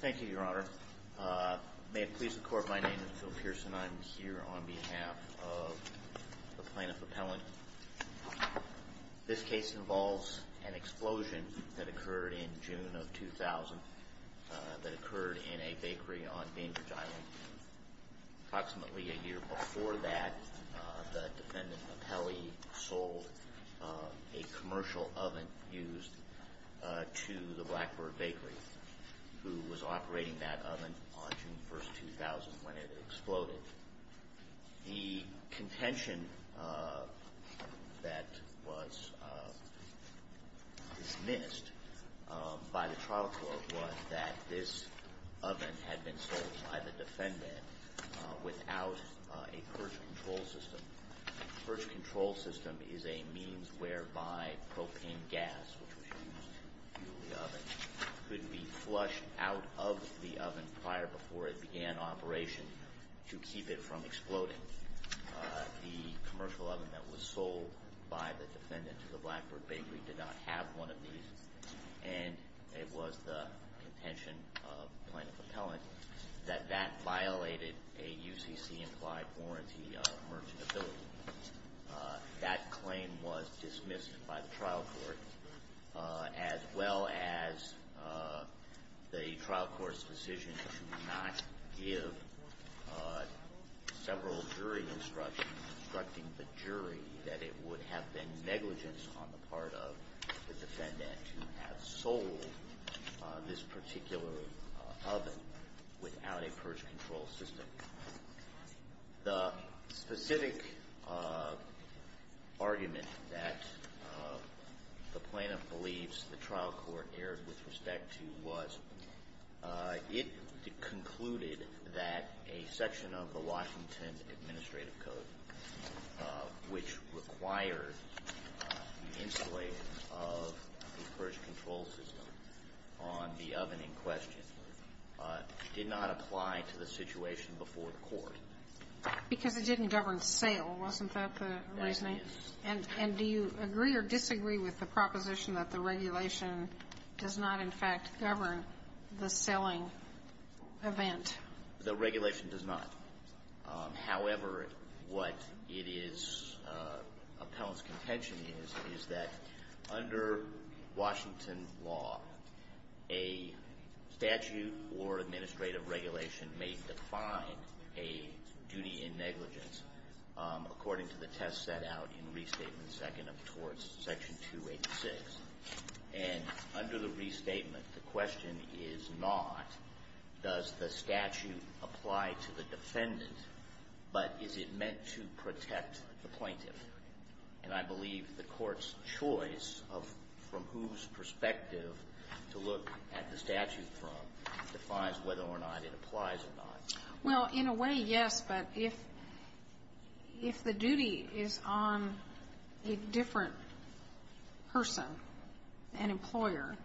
Thank you, Your Honor. May it please the Court, my name is Phil Pearson. I'm here on behalf of the Plaintiff Appellant. This case involves an explosion that occurred in June of 2000 that occurred in a bakery on Bainbridge Island. Approximately a year before that, the defendant, Appellee, sold a commercial oven used to the Blackbird Bakery, who was operating that oven on June 1, 2000 when it exploded. The contention that was dismissed by the trial court was that this oven had been sold by the defendant without a purge control system. A purge control system is a means whereby propane gas, which was used to fuel the oven, could be flushed out of the oven prior before it began operation to keep it from exploding. The commercial oven that was sold by the defendant to the Blackbird Bakery did not have one of these, and it was the contention of the Plaintiff Appellant that that violated a UCC-implied warranty of merchantability. That claim was dismissed by the trial court, as well as the trial court's decision to not give several jury instructions instructing the jury that it would have been negligence on the part of the defendant to have sold this particular oven without a purge control system. The specific argument that the Plaintiff believes the trial court erred with respect to was it concluded that a section of the Washington Administrative Code, which required the installation of a purge control system on the oven in question, did not apply to the situation before the court. Because it didn't govern sale, wasn't that the reasoning? That is. And do you agree or disagree with the proposition that the regulation does not, in fact, govern the selling event? The regulation does not. However, what it is, Appellant's contention is, is that under Washington law, a statute or administrative regulation may define a duty in negligence, according to the test set out in Restatement 2nd towards Section 286. And under the restatement, the question is not, does the statute apply to the defendant, but is it meant to protect the plaintiff? And I believe the court's choice of from whose perspective to look at the statute from defines whether or not it applies or not. Well, in a way, yes. But if the duty is on a different person, an employer,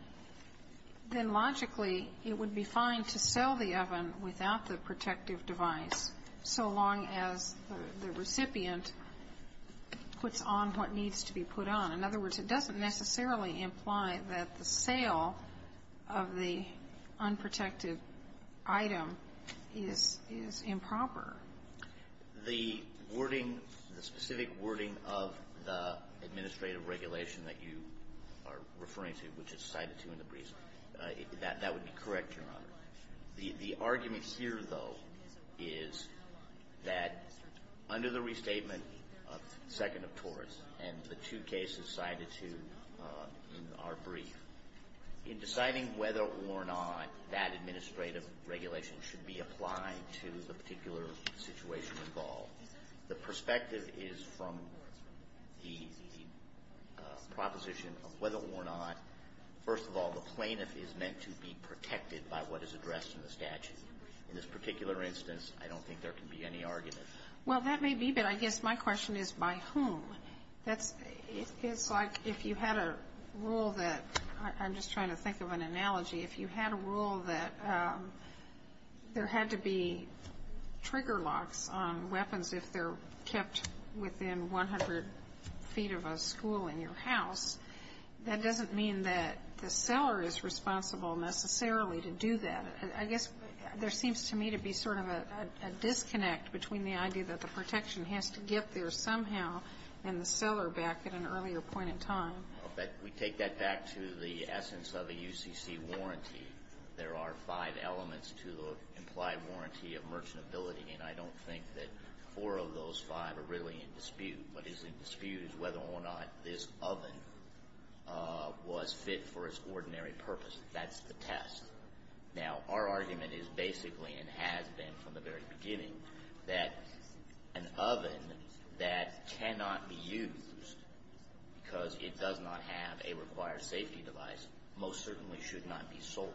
then logically, it would be fine to sell the oven without the protective device, so long as the recipient puts on what needs to be put on. In other words, it doesn't necessarily imply that the sale of the unprotected item is improper. The wording, the specific wording of the administrative regulation that you are referring to, which is cited to in the briefs, that would be correct, Your Honor. The argument here, though, is that under the restatement of 2nd of Taurus and the two cases cited to in our brief, in deciding whether or not that administrative regulation should be applied to the particular situation involved, the perspective is from the proposition of whether or not, first of all, the plaintiff is meant to be protected by what is addressed in the statute. In this particular instance, I don't think there can be any argument. Well, that may be, but I guess my question is by whom. It's like if you had a rule that, I'm just trying to think of an analogy, if you had a rule that there had to be trigger locks on weapons if they're kept within 100 feet of a school in your house, that doesn't mean that the seller is responsible necessarily to do that. I guess there seems to me to be sort of a disconnect between the idea that the protection has to get there somehow and the seller back at an earlier point in time. We take that back to the essence of a UCC warranty. There are five elements to the implied warranty of merchantability, and I don't think that four of those five are really in dispute. What is in dispute is whether or not this oven was fit for its ordinary purpose. That's the test. Now, our argument is basically and has been from the very beginning that an oven that cannot be used because it does not have a required safety device most certainly should not be sold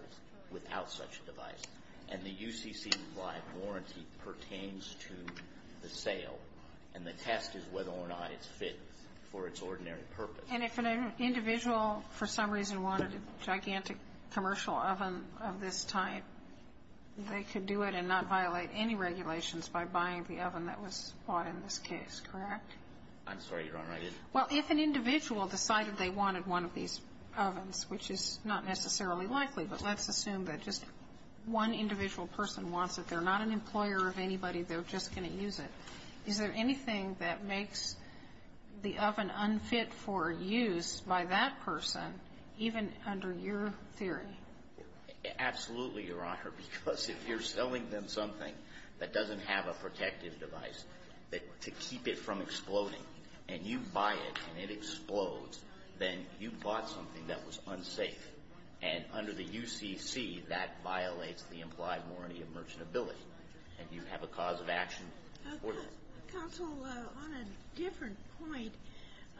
without such a device. And the UCC implied warranty pertains to the sale. And the test is whether or not it's fit for its ordinary purpose. And if an individual for some reason wanted a gigantic commercial oven of this type, they could do it and not violate any regulations by buying the oven that was bought in this case, correct? I'm sorry. You're all right. Well, if an individual decided they wanted one of these ovens, which is not necessarily likely, but let's assume that just one individual person wants it. They're not an employer of anybody. They're just going to use it. Is there anything that makes the oven unfit for use by that person, even under your theory? Absolutely, Your Honor, because if you're selling them something that doesn't have a protective device to keep it from exploding, and you buy it and it explodes, then you bought something that was unsafe. And under the UCC, that violates the implied warranty of merchantability. And you have a cause of action. Counsel, on a different point,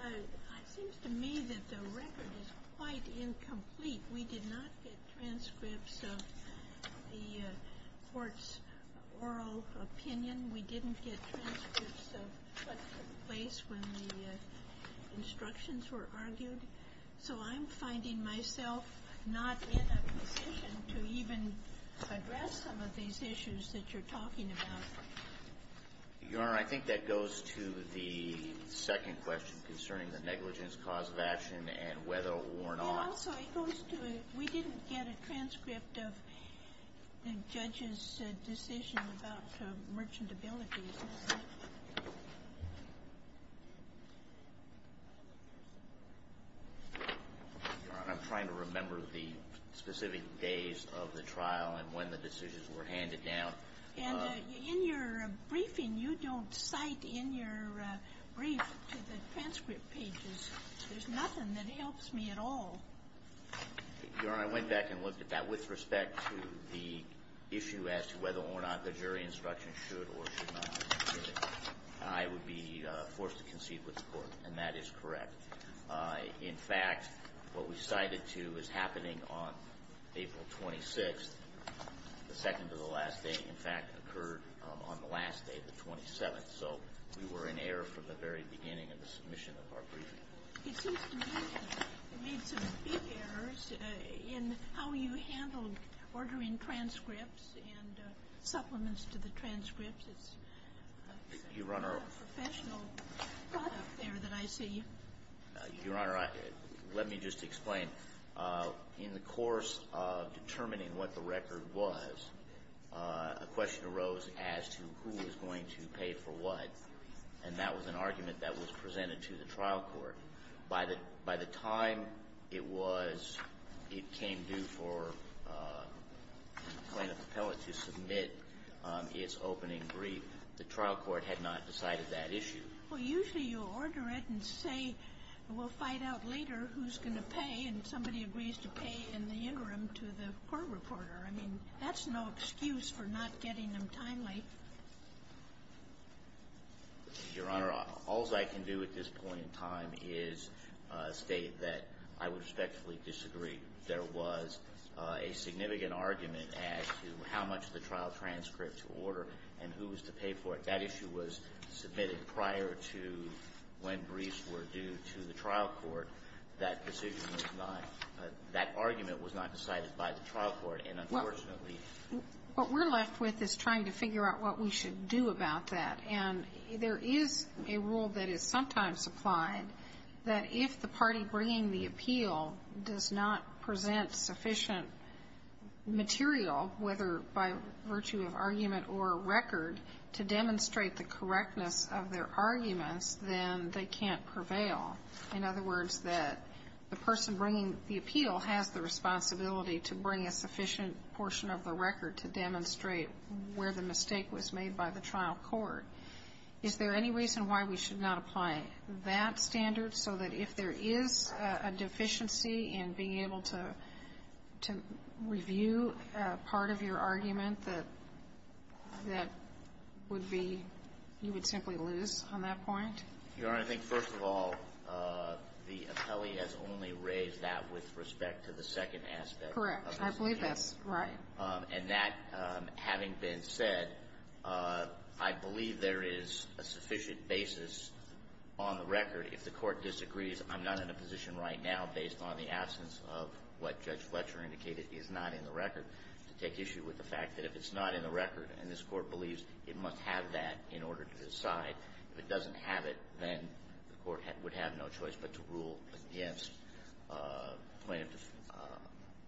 it seems to me that the record is quite incomplete. We did not get transcripts of the court's oral opinion. We didn't get transcripts of what took place when the instructions were argued. So I'm finding myself not in a position to even address some of these issues that you're talking about. Your Honor, I think that goes to the second question concerning the negligence cause of action and whether or not ---- And also it goes to we didn't get a transcript of the judge's decision about merchantability. Your Honor, I'm trying to remember the specific days of the trial and when the decisions were handed down. And in your briefing, you don't cite in your brief to the transcript pages. There's nothing that helps me at all. Your Honor, I went back and looked at that with respect to the issue as to whether or not the jury instruction should or should not be given. I would be forced to concede with the Court, and that is correct. In fact, what we cited to is happening on April 26th. The second to the last day, in fact, occurred on the last day, the 27th. So we were in error from the very beginning of the submission of our briefing. It seems to me you made some big errors in how you handled ordering transcripts and supplements to the transcripts. It's a professional thought up there that I see. Your Honor, let me just explain. In the course of determining what the record was, a question arose as to who was going to pay for what. And that was an argument that was presented to the trial court. By the time it was – it came due for plaintiff appellate to submit its opening brief, the trial court had not decided that issue. Well, usually you order it and say we'll find out later who's going to pay, and somebody agrees to pay in the interim to the court reporter. I mean, that's no excuse for not getting them timely. Your Honor, all I can do at this point in time is state that I would respectfully disagree. There was a significant argument as to how much the trial transcript to order and who was to pay for it. That issue was submitted prior to when briefs were due to the trial court. That decision was not – that argument was not decided by the trial court. What we're left with is trying to figure out what we should do about that. And there is a rule that is sometimes applied that if the party bringing the appeal does not present sufficient material, whether by virtue of argument or record, to demonstrate the correctness of their arguments, then they can't prevail. In other words, that the person bringing the appeal has the responsibility to bring a sufficient portion of the record to demonstrate where the mistake was made by the trial court. Is there any reason why we should not apply that standard so that if there is a deficiency in being able to review part of your argument that that would be – you would simply lose on that point? Your Honor, I think, first of all, the appellee has only raised that with respect to the second aspect of this case. Correct. I believe that's right. And that having been said, I believe there is a sufficient basis on the record if the court disagrees. I'm not in a position right now, based on the absence of what Judge Fletcher indicated is not in the record, to take issue with the fact that if it's not in the record, then the court would have no choice but to rule against plaintiff –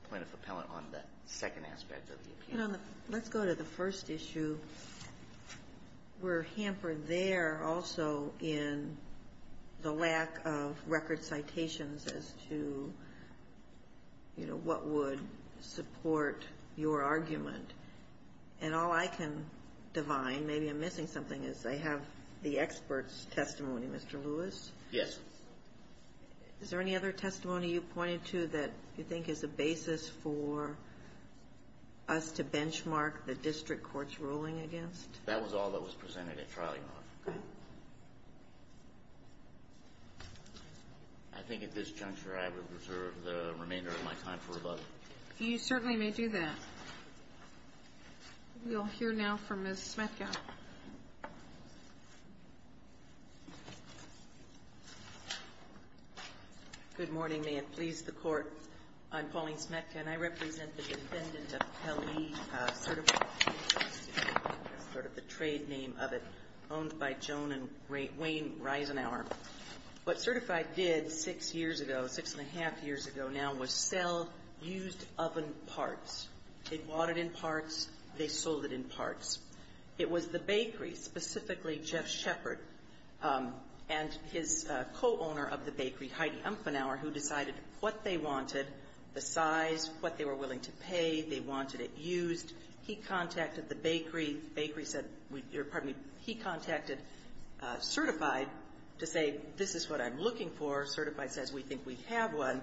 plaintiff appellant on the second aspect of the appeal. Let's go to the first issue. We're hampered there also in the lack of record citations as to, you know, what would support your argument. And all I can divine, maybe I'm missing something, is they have the expert's testimony, Mr. Lewis. Yes. Is there any other testimony you pointed to that you think is a basis for us to benchmark the district court's ruling against? That was all that was presented at trial, Your Honor. Okay. I think at this juncture I would reserve the remainder of my time for rebuttal. You certainly may do that. We'll hear now from Ms. Smetka. Good morning. May it please the Court, I'm Pauline Smetka, and I represent the defendant of Kelly Certified. That's sort of the trade name of it. Owned by Joan and Wayne Reisenhower. What Certified did six years ago, six and a half years ago now, was sell used oven parts. They bought it in parts. They sold it in parts. It was the bakery, specifically Jeff Shepard and his co-owner of the bakery, Heidi Umfenauer, who decided what they wanted, the size, what they were willing to pay. They wanted it used. He contacted the bakery. He contacted Certified to say this is what I'm looking for. Certified says we think we have one.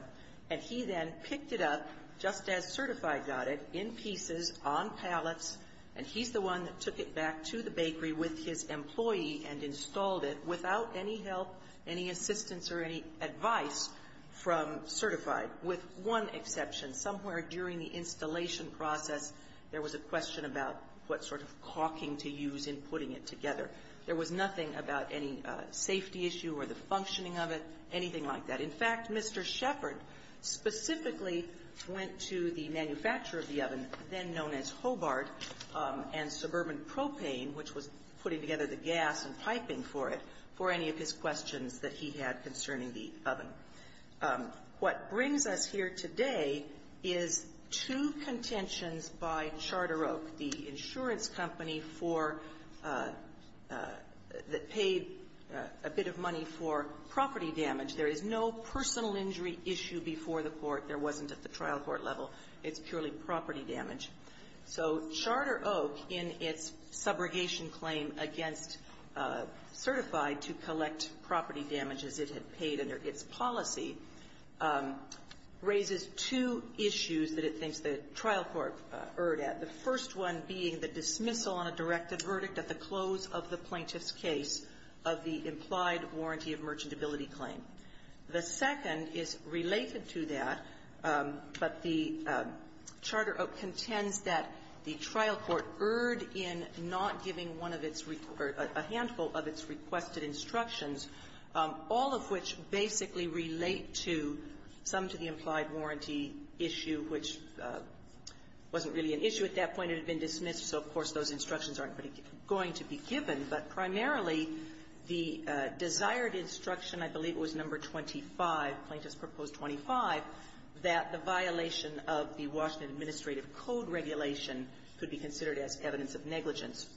And he then picked it up, just as Certified got it, in pieces, on pallets, and he's the one that took it back to the bakery with his employee and installed it without any help, any assistance, or any advice from Certified, with one exception. Somewhere during the installation process, there was a question about what sort of caulking to use in putting it together. There was nothing about any safety issue or the functioning of it, anything like that. In fact, Mr. Shepard specifically went to the manufacturer of the oven, then known as Hobart, and Suburban Propane, which was putting together the gas and piping for it, for any of his questions that he had concerning the oven. What brings us here today is two contentions by Charter Oak, the insurance company for the paid a bit of money for property damage. There is no personal injury issue before the court. There wasn't at the trial court level. It's purely property damage. So Charter Oak, in its subrogation claim against Certified to collect property damages it had paid under its policy, raises two issues that it thinks the trial court erred at, the first one being the dismissal on a directed verdict at the close of the plaintiff's case of the implied warranty of merchantability claim. The second is related to that, but the Charter Oak contends that the trial court erred in not giving one of its or a handful of its requested instructions, all of which basically relate to some to the implied warranty issue, which wasn't really an issue at that point. It had been dismissed, so, of course, those instructions aren't going to be given. But primarily, the desired instruction, I believe it was number 25, plaintiff's proposed 25, that the violation of the Washington administrative code regulation could be considered as evidence of negligence.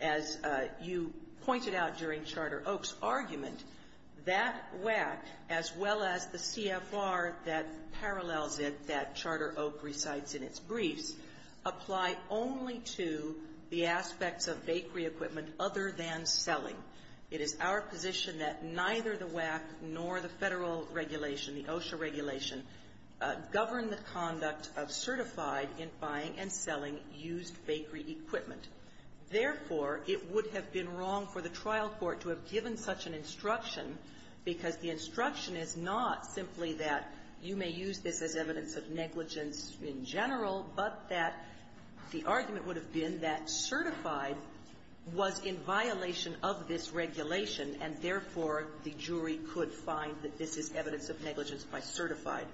As you pointed out during Charter Oak's argument, that WAC, as well as the CFR that parallels it that Charter Oak recites in its briefs, apply only to the aspects of bakery equipment other than selling. It is our position that neither the WAC nor the Federal regulation, the OSHA regulation, govern the conduct of certified in buying and selling used bakery equipment. Therefore, it would have been wrong for the trial court to have given such an instruction because the instruction is not simply that you may use this as evidence of negligence in general, but that the argument would have been that certified was in violation of this regulation, and therefore, the jury could find that this is evidence of negligence by certified.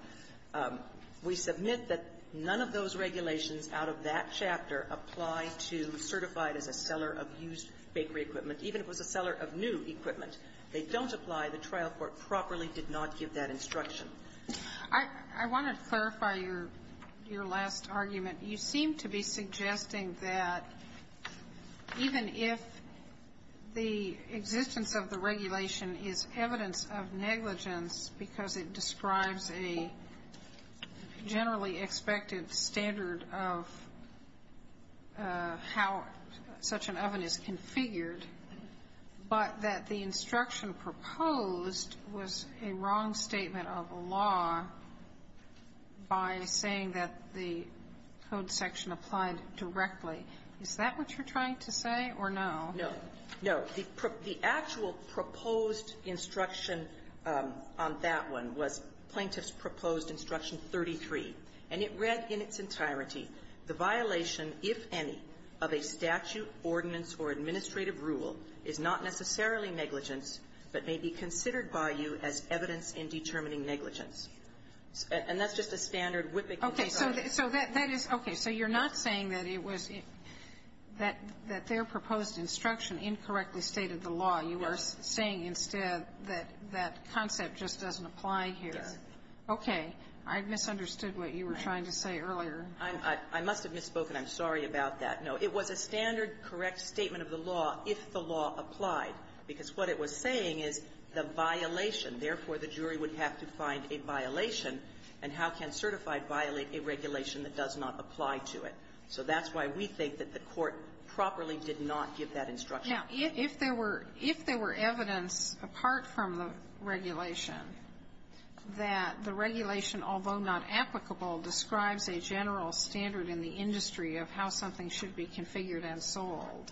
We submit that none of those regulations out of that chapter apply to certified as a seller of used bakery equipment, even if it was a seller of new equipment. They don't apply. The trial court properly did not give that instruction. I want to clarify your last argument. You seem to be suggesting that even if the existence of the regulation is evidence of negligence because it describes a generally expected standard of how such an oven is configured, but that the instruction proposed was a wrong statement of law by saying that the code section applied directly. Is that what you're trying to say or no? No. No. The actual proposed instruction on that one was Plaintiff's Proposed Instruction 33, and it read in its entirety, the violation, if any, of a statute, ordinance, or administrative rule is not necessarily negligence, but may be considered by you as evidence in determining negligence. And that's just a standard whipping case argument. Okay. So that is okay. So you're not saying that it was that their proposed instruction incorrectly stated the law. You are saying instead that that concept just doesn't apply here. Yes. Okay. I misunderstood what you were trying to say earlier. I must have misspoken. I'm sorry about that. No. It was a standard correct statement of the law if the law applied, because what it was saying is the violation. Therefore, the jury would have to find a violation. And how can certified violate a regulation that does not apply to it? So that's why we think that the Court properly did not give that instruction. Now, if there were evidence apart from the regulation that the regulation, although not applicable, describes a general standard in the industry of how something should be configured and sold,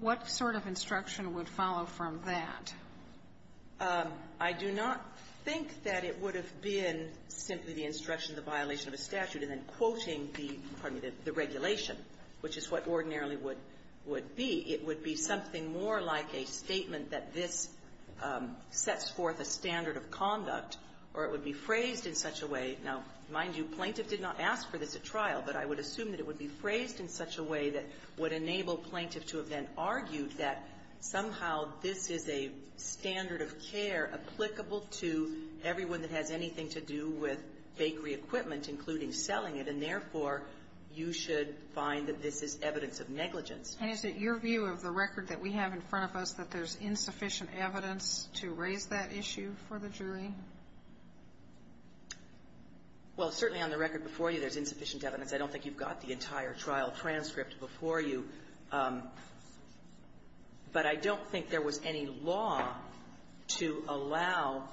what sort of instruction would follow from that? I do not think that it would have been simply the instruction of the violation of a statute and then quoting the regulation, which is what ordinarily would be. It would be something more like a statement that this sets forth a standard of conduct, or it would be phrased in such a way. Now, mind you, Plaintiff did not ask for this at trial, but I would assume that it would be phrased in such a way that would enable Plaintiff to have then argued that somehow this is a standard of care applicable to everyone that has anything to do with bakery equipment, including selling it. And therefore, you should find that this is evidence of negligence. And is it your view of the record that we have in front of us that there's insufficient evidence to raise that issue for the jury? Well, certainly on the record before you there's insufficient evidence. I don't think you've got the entire trial transcript before you. But I don't think there was any law to allow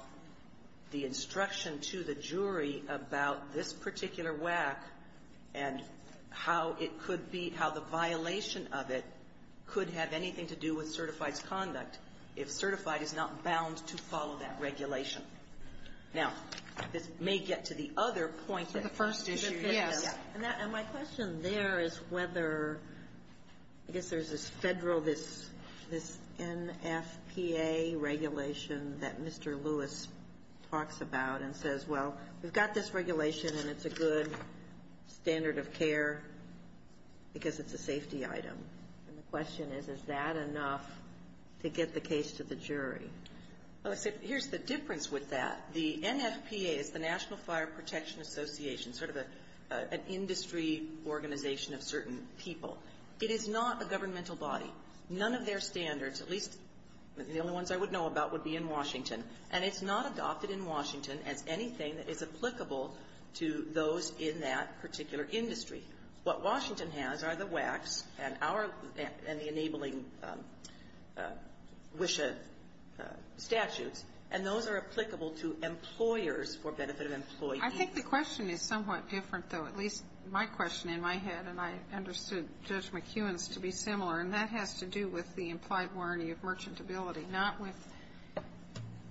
the instruction to the jury about this particular WAC and how it could be, how the violation of it could have anything to do with certified conduct. If certified, it's not bound to follow that regulation. Now, this may get to the other point that first issue. Yes. And my question there is whether, I guess there's this Federal, this NFPA regulation that Mr. Lewis talks about and says, well, we've got this regulation and it's a good standard of care because it's a safety item. And the question is, is that enough to get the case to the jury? Well, here's the difference with that. The NFPA is the National Fire Protection Association, sort of an industry organization of certain people. It is not a governmental body. None of their standards, at least the only ones I would know about, would be in Washington. And it's not adopted in Washington as anything that is applicable to those in that particular industry. What Washington has are the WACs and our, and the enabling WISHA statutes, and those are applicable to employers for benefit of employees. I think the question is somewhat different, though. At least my question in my head, and I understood Judge McEwen's to be similar, and that has to do with the implied warranty of merchantability, not with,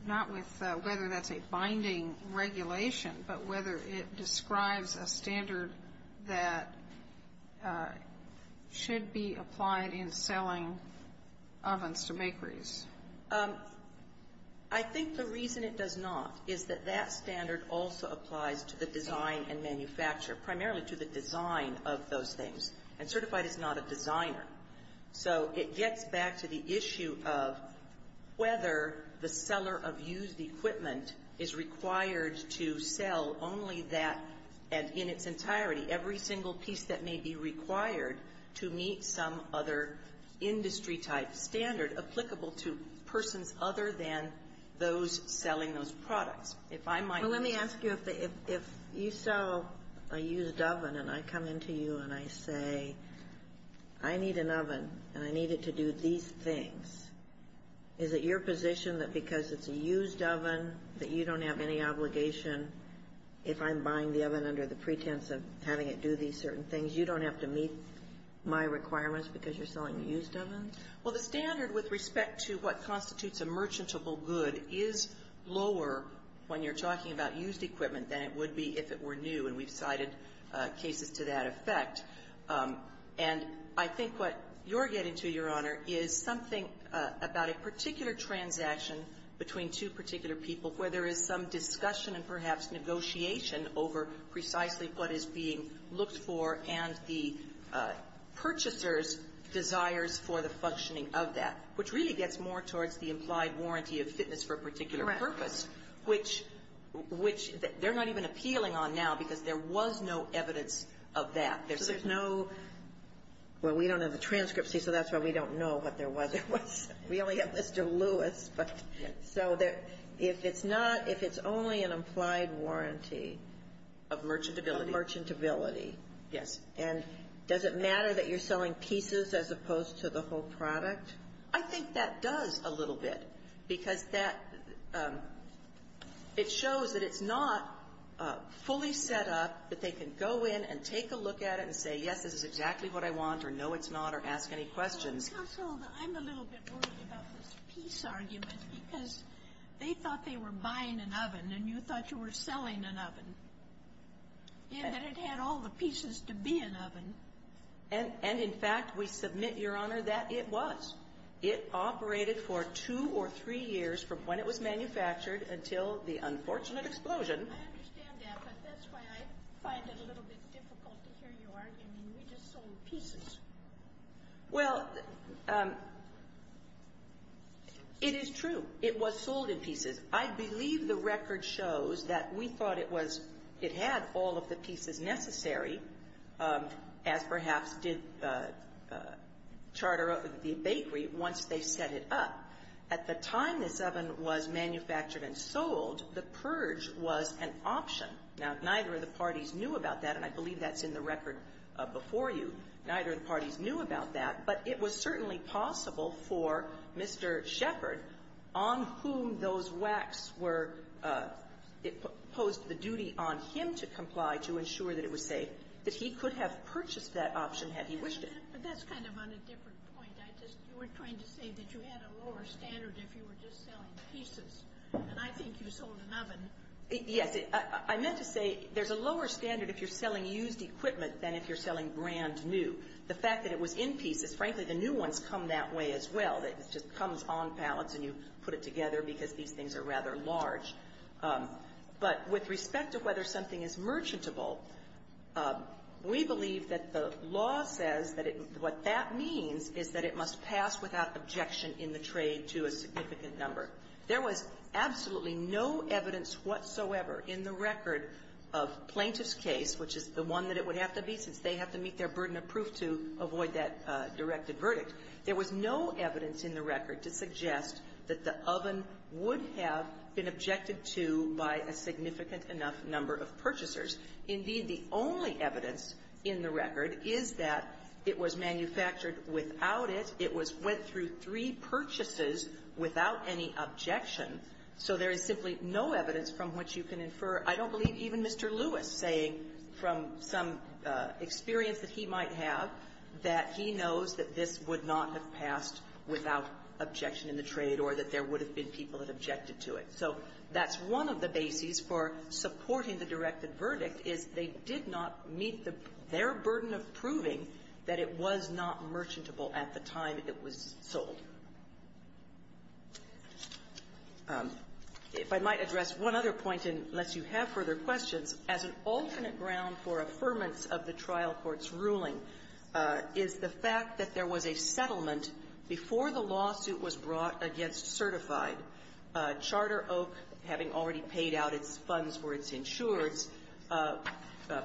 not with whether that's a binding regulation, but whether it describes a standard that should be applied in selling ovens to bakeries. I think the reason it does not is that that standard also applies to the design and manufacture, primarily to the design of those things. And Certified is not a designer. So it gets back to the issue of whether the seller of used equipment is required to sell only that, and in its entirety, every single piece that may be required to meet some other industry-type standard applicable to persons other than those selling those products. If I might ask you if the, if you sell a used oven, and I come into you and I say, I need an oven, and I need it to do these things, is it your position that because it's a used oven that you don't have any obligation, if I'm buying the oven under the pretense of having it do these certain things, you don't have to meet my requirements because you're selling a used oven? Well, the standard with respect to what constitutes a merchantable good is lower when you're talking about used equipment than it would be if it were new, and we've cited cases to that effect. And I think what you're getting to, Your Honor, is something about a particular transaction between two particular people where there is some discussion and perhaps negotiation over precisely what is being looked for and the purchaser's desires for the functioning of that, which really gets more towards the implied warranty of fitness for a particular purpose, which they're not even there's no evidence of that. There's no, well, we don't have the transcripts, so that's why we don't know what there was. We only have Mr. Lewis. So if it's not, if it's only an implied warranty. Of merchantability. Of merchantability. Yes. And does it matter that you're selling pieces as opposed to the whole product? I think that does a little bit because that, it shows that it's not fully set up that they can go in and take a look at it and say, yes, this is exactly what I want, or no, it's not, or ask any questions. Counsel, I'm a little bit worried about this piece argument because they thought they were buying an oven and you thought you were selling an oven, and that it had all the pieces to be an oven. And in fact, we submit, Your Honor, that it was. It operated for two or three years from when it was manufactured until the unfortunate explosion. I understand that, but that's why I find it a little bit difficult to hear you argue. I mean, we just sold pieces. Well, it is true. It was sold in pieces. I believe the record shows that we thought it was, it had all of the pieces necessary, as perhaps did the charter of the bakery once they set it up. At the time this oven was manufactured and sold, the purge was an option. Now, neither of the parties knew about that, and I believe that's in the record before you. Neither of the parties knew about that, but it was certainly possible for Mr. Shepard, on whom those wax were, it posed the duty on him to comply to ensure that it was safe, that he could have purchased that option had he wished it. But that's kind of on a different point. You were trying to say that you had a lower standard if you were just selling pieces, and I think you sold an oven. Yes. I meant to say there's a lower standard if you're selling used equipment than if you're selling brand new. The fact that it was in pieces, frankly, the new ones come that way as well. It just comes on pallets and you put it together because these things are rather large. But with respect to whether something is merchantable, we believe that the law says that it what that means is that it must pass without objection in the trade to a significant number. There was absolutely no evidence whatsoever in the record of plaintiff's case, which is the one that it would have to be since they have to meet their burden of proof to avoid that directed verdict. There was no evidence in the record to suggest that the oven would have been objected to by a significant enough number of purchasers. Indeed, the only evidence in the record is that it was manufactured without it. It was went through three purchases without any objection. So there is simply no evidence from which you can infer. I don't believe even Mr. Lewis saying from some experience that he might have that he knows that this would not have passed without objection in the trade or that there would have been people that objected to it. So that's one of the bases for supporting the directed verdict, is they did not meet their burden of proving that it was not merchantable at the time it was sold. If I might address one other point, and unless you have further questions, as an alternate ground for affirmance of the trial court's ruling, is the fact that there was a settlement before the lawsuit was brought against Certified, Charter Oak, having already paid out its funds for its insurers,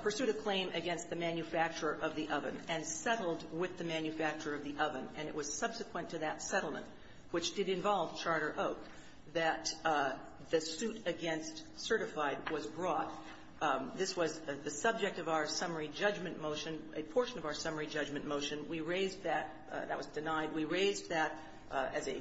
pursued a claim against the manufacturer of the oven and settled with the manufacturer of the oven, and it was subsequent to that settlement, which did involve Charter Oak, that the suit against Certified was brought. This was the subject of our summary judgment motion, a portion of our summary judgment motion. We raised that. That was denied. We raised that as a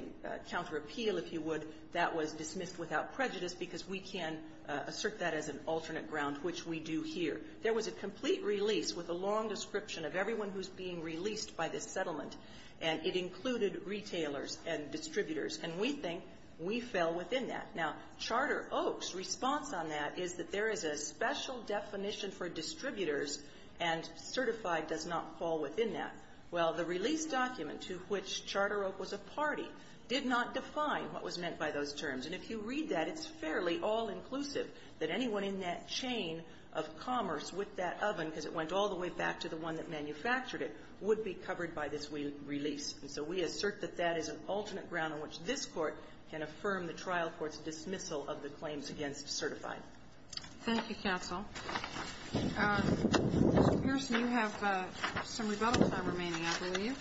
counterappeal, if you would, that was dismissed without prejudice because we can assert that as an alternate ground, which we do here. There was a complete release with a long description of everyone who's being released by this settlement, and it included retailers and distributors. And we think we fell within that. Now, Charter Oak's response on that is that there is a special definition for distributors, and Certified does not fall within that. Well, the release document to which Charter Oak was a party did not define what was meant by those terms. And if you read that, it's fairly all-inclusive that anyone in that chain of commerce with that oven, because it went all the way back to the one that manufactured it, would be covered by this release. And so we assert that that is an alternate ground on which this Court can affirm the trial court's dismissal of the claims against Certified. Thank you, counsel. Mr. Pearson, you have some rebuttals that are remaining, I believe.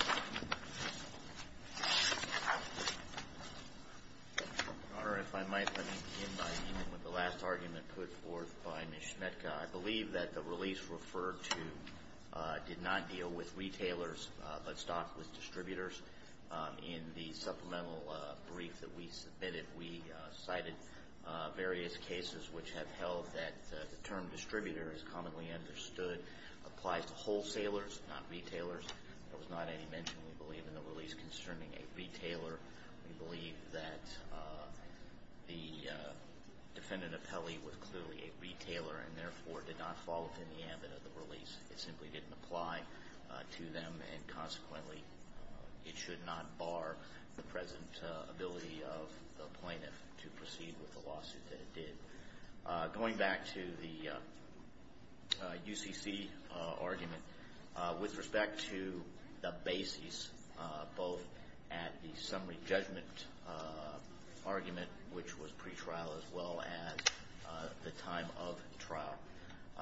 Your Honor, if I might, let me begin by ending with the last argument put forth by Ms. Schmetka. I believe that the release referred to did not deal with retailers but stocked with distributors. In the supplemental brief that we submitted, we cited various cases which have held that the term distributor is commonly understood applies to wholesalers, not retailers. There was not any mention, we believe, in the release concerning a retailer. We believe that the defendant appellee was clearly a retailer and, therefore, did not fall within the ambit of the release. It simply didn't apply to them and, consequently, it should not bar the present ability of the plaintiff to proceed with the lawsuit that it did. Going back to the UCC argument, with respect to the basis both at the summary judgment argument, which was pretrial, as well as the time of trial.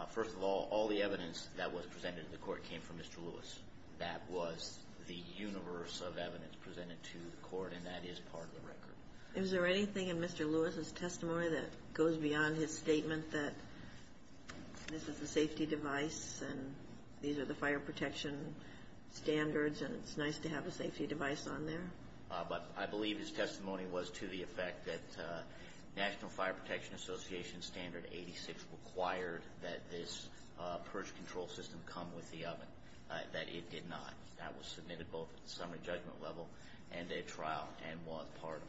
First of all, all the evidence that was presented in the court came from Mr. Lewis. That was the universe of evidence presented to the court, and that is part of the record. Is there anything in Mr. Lewis's testimony that goes beyond his statement that this is a safety device and these are the fire protection standards and it's nice to have a safety device on there? I believe his testimony was to the effect that National Fire Protection Association Standard 86 required that this purge control system come with the oven, that it did not. That was submitted both at the summary judgment level and at trial and was part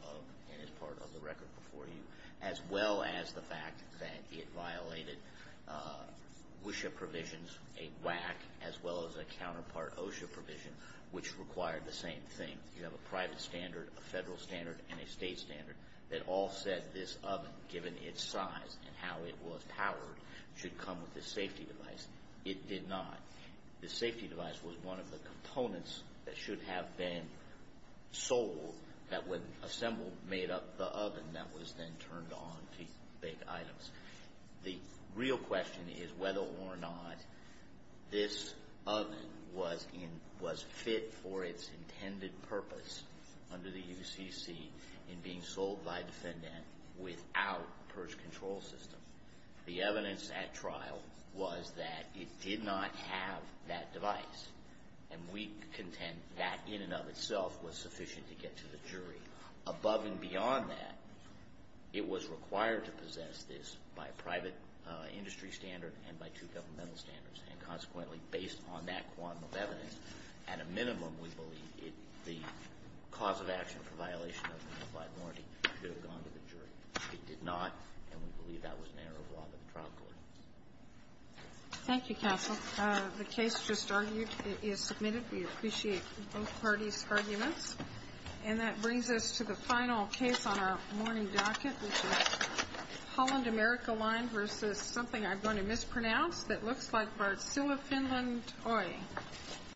of the record before you, as well as the fact that it violated WSHA provisions, a WAC, as well as a counterpart OSHA provision, which required the same thing. You have a private standard, a federal standard, and a state standard that all said this oven, given its size and how it was powered, should come with a safety device. It did not. The safety device was one of the components that should have been sold that, when assembled, made up the oven that was then turned on to bake items. The real question is whether or not this oven was fit for its intended purpose under the UCC in being sold by defendant without purge control system. The evidence at trial was that it did not have that device, and we contend that, in and of itself, was sufficient to get to the jury. Above and beyond that, it was required to possess this by a private industry standard and by two governmental standards, and consequently, based on that one of evidence, at a minimum, we believe it the cause of action for violation of a unified warranty should have gone to the jury. It did not, and we believe that was an error of law to the trial court. Thank you, counsel. The case just argued is submitted. We appreciate both parties' arguments. And that brings us to the final case on our morning docket, which is Holland America Line v. Something I'm going to mispronounce that looks like Varsua Finland Oy.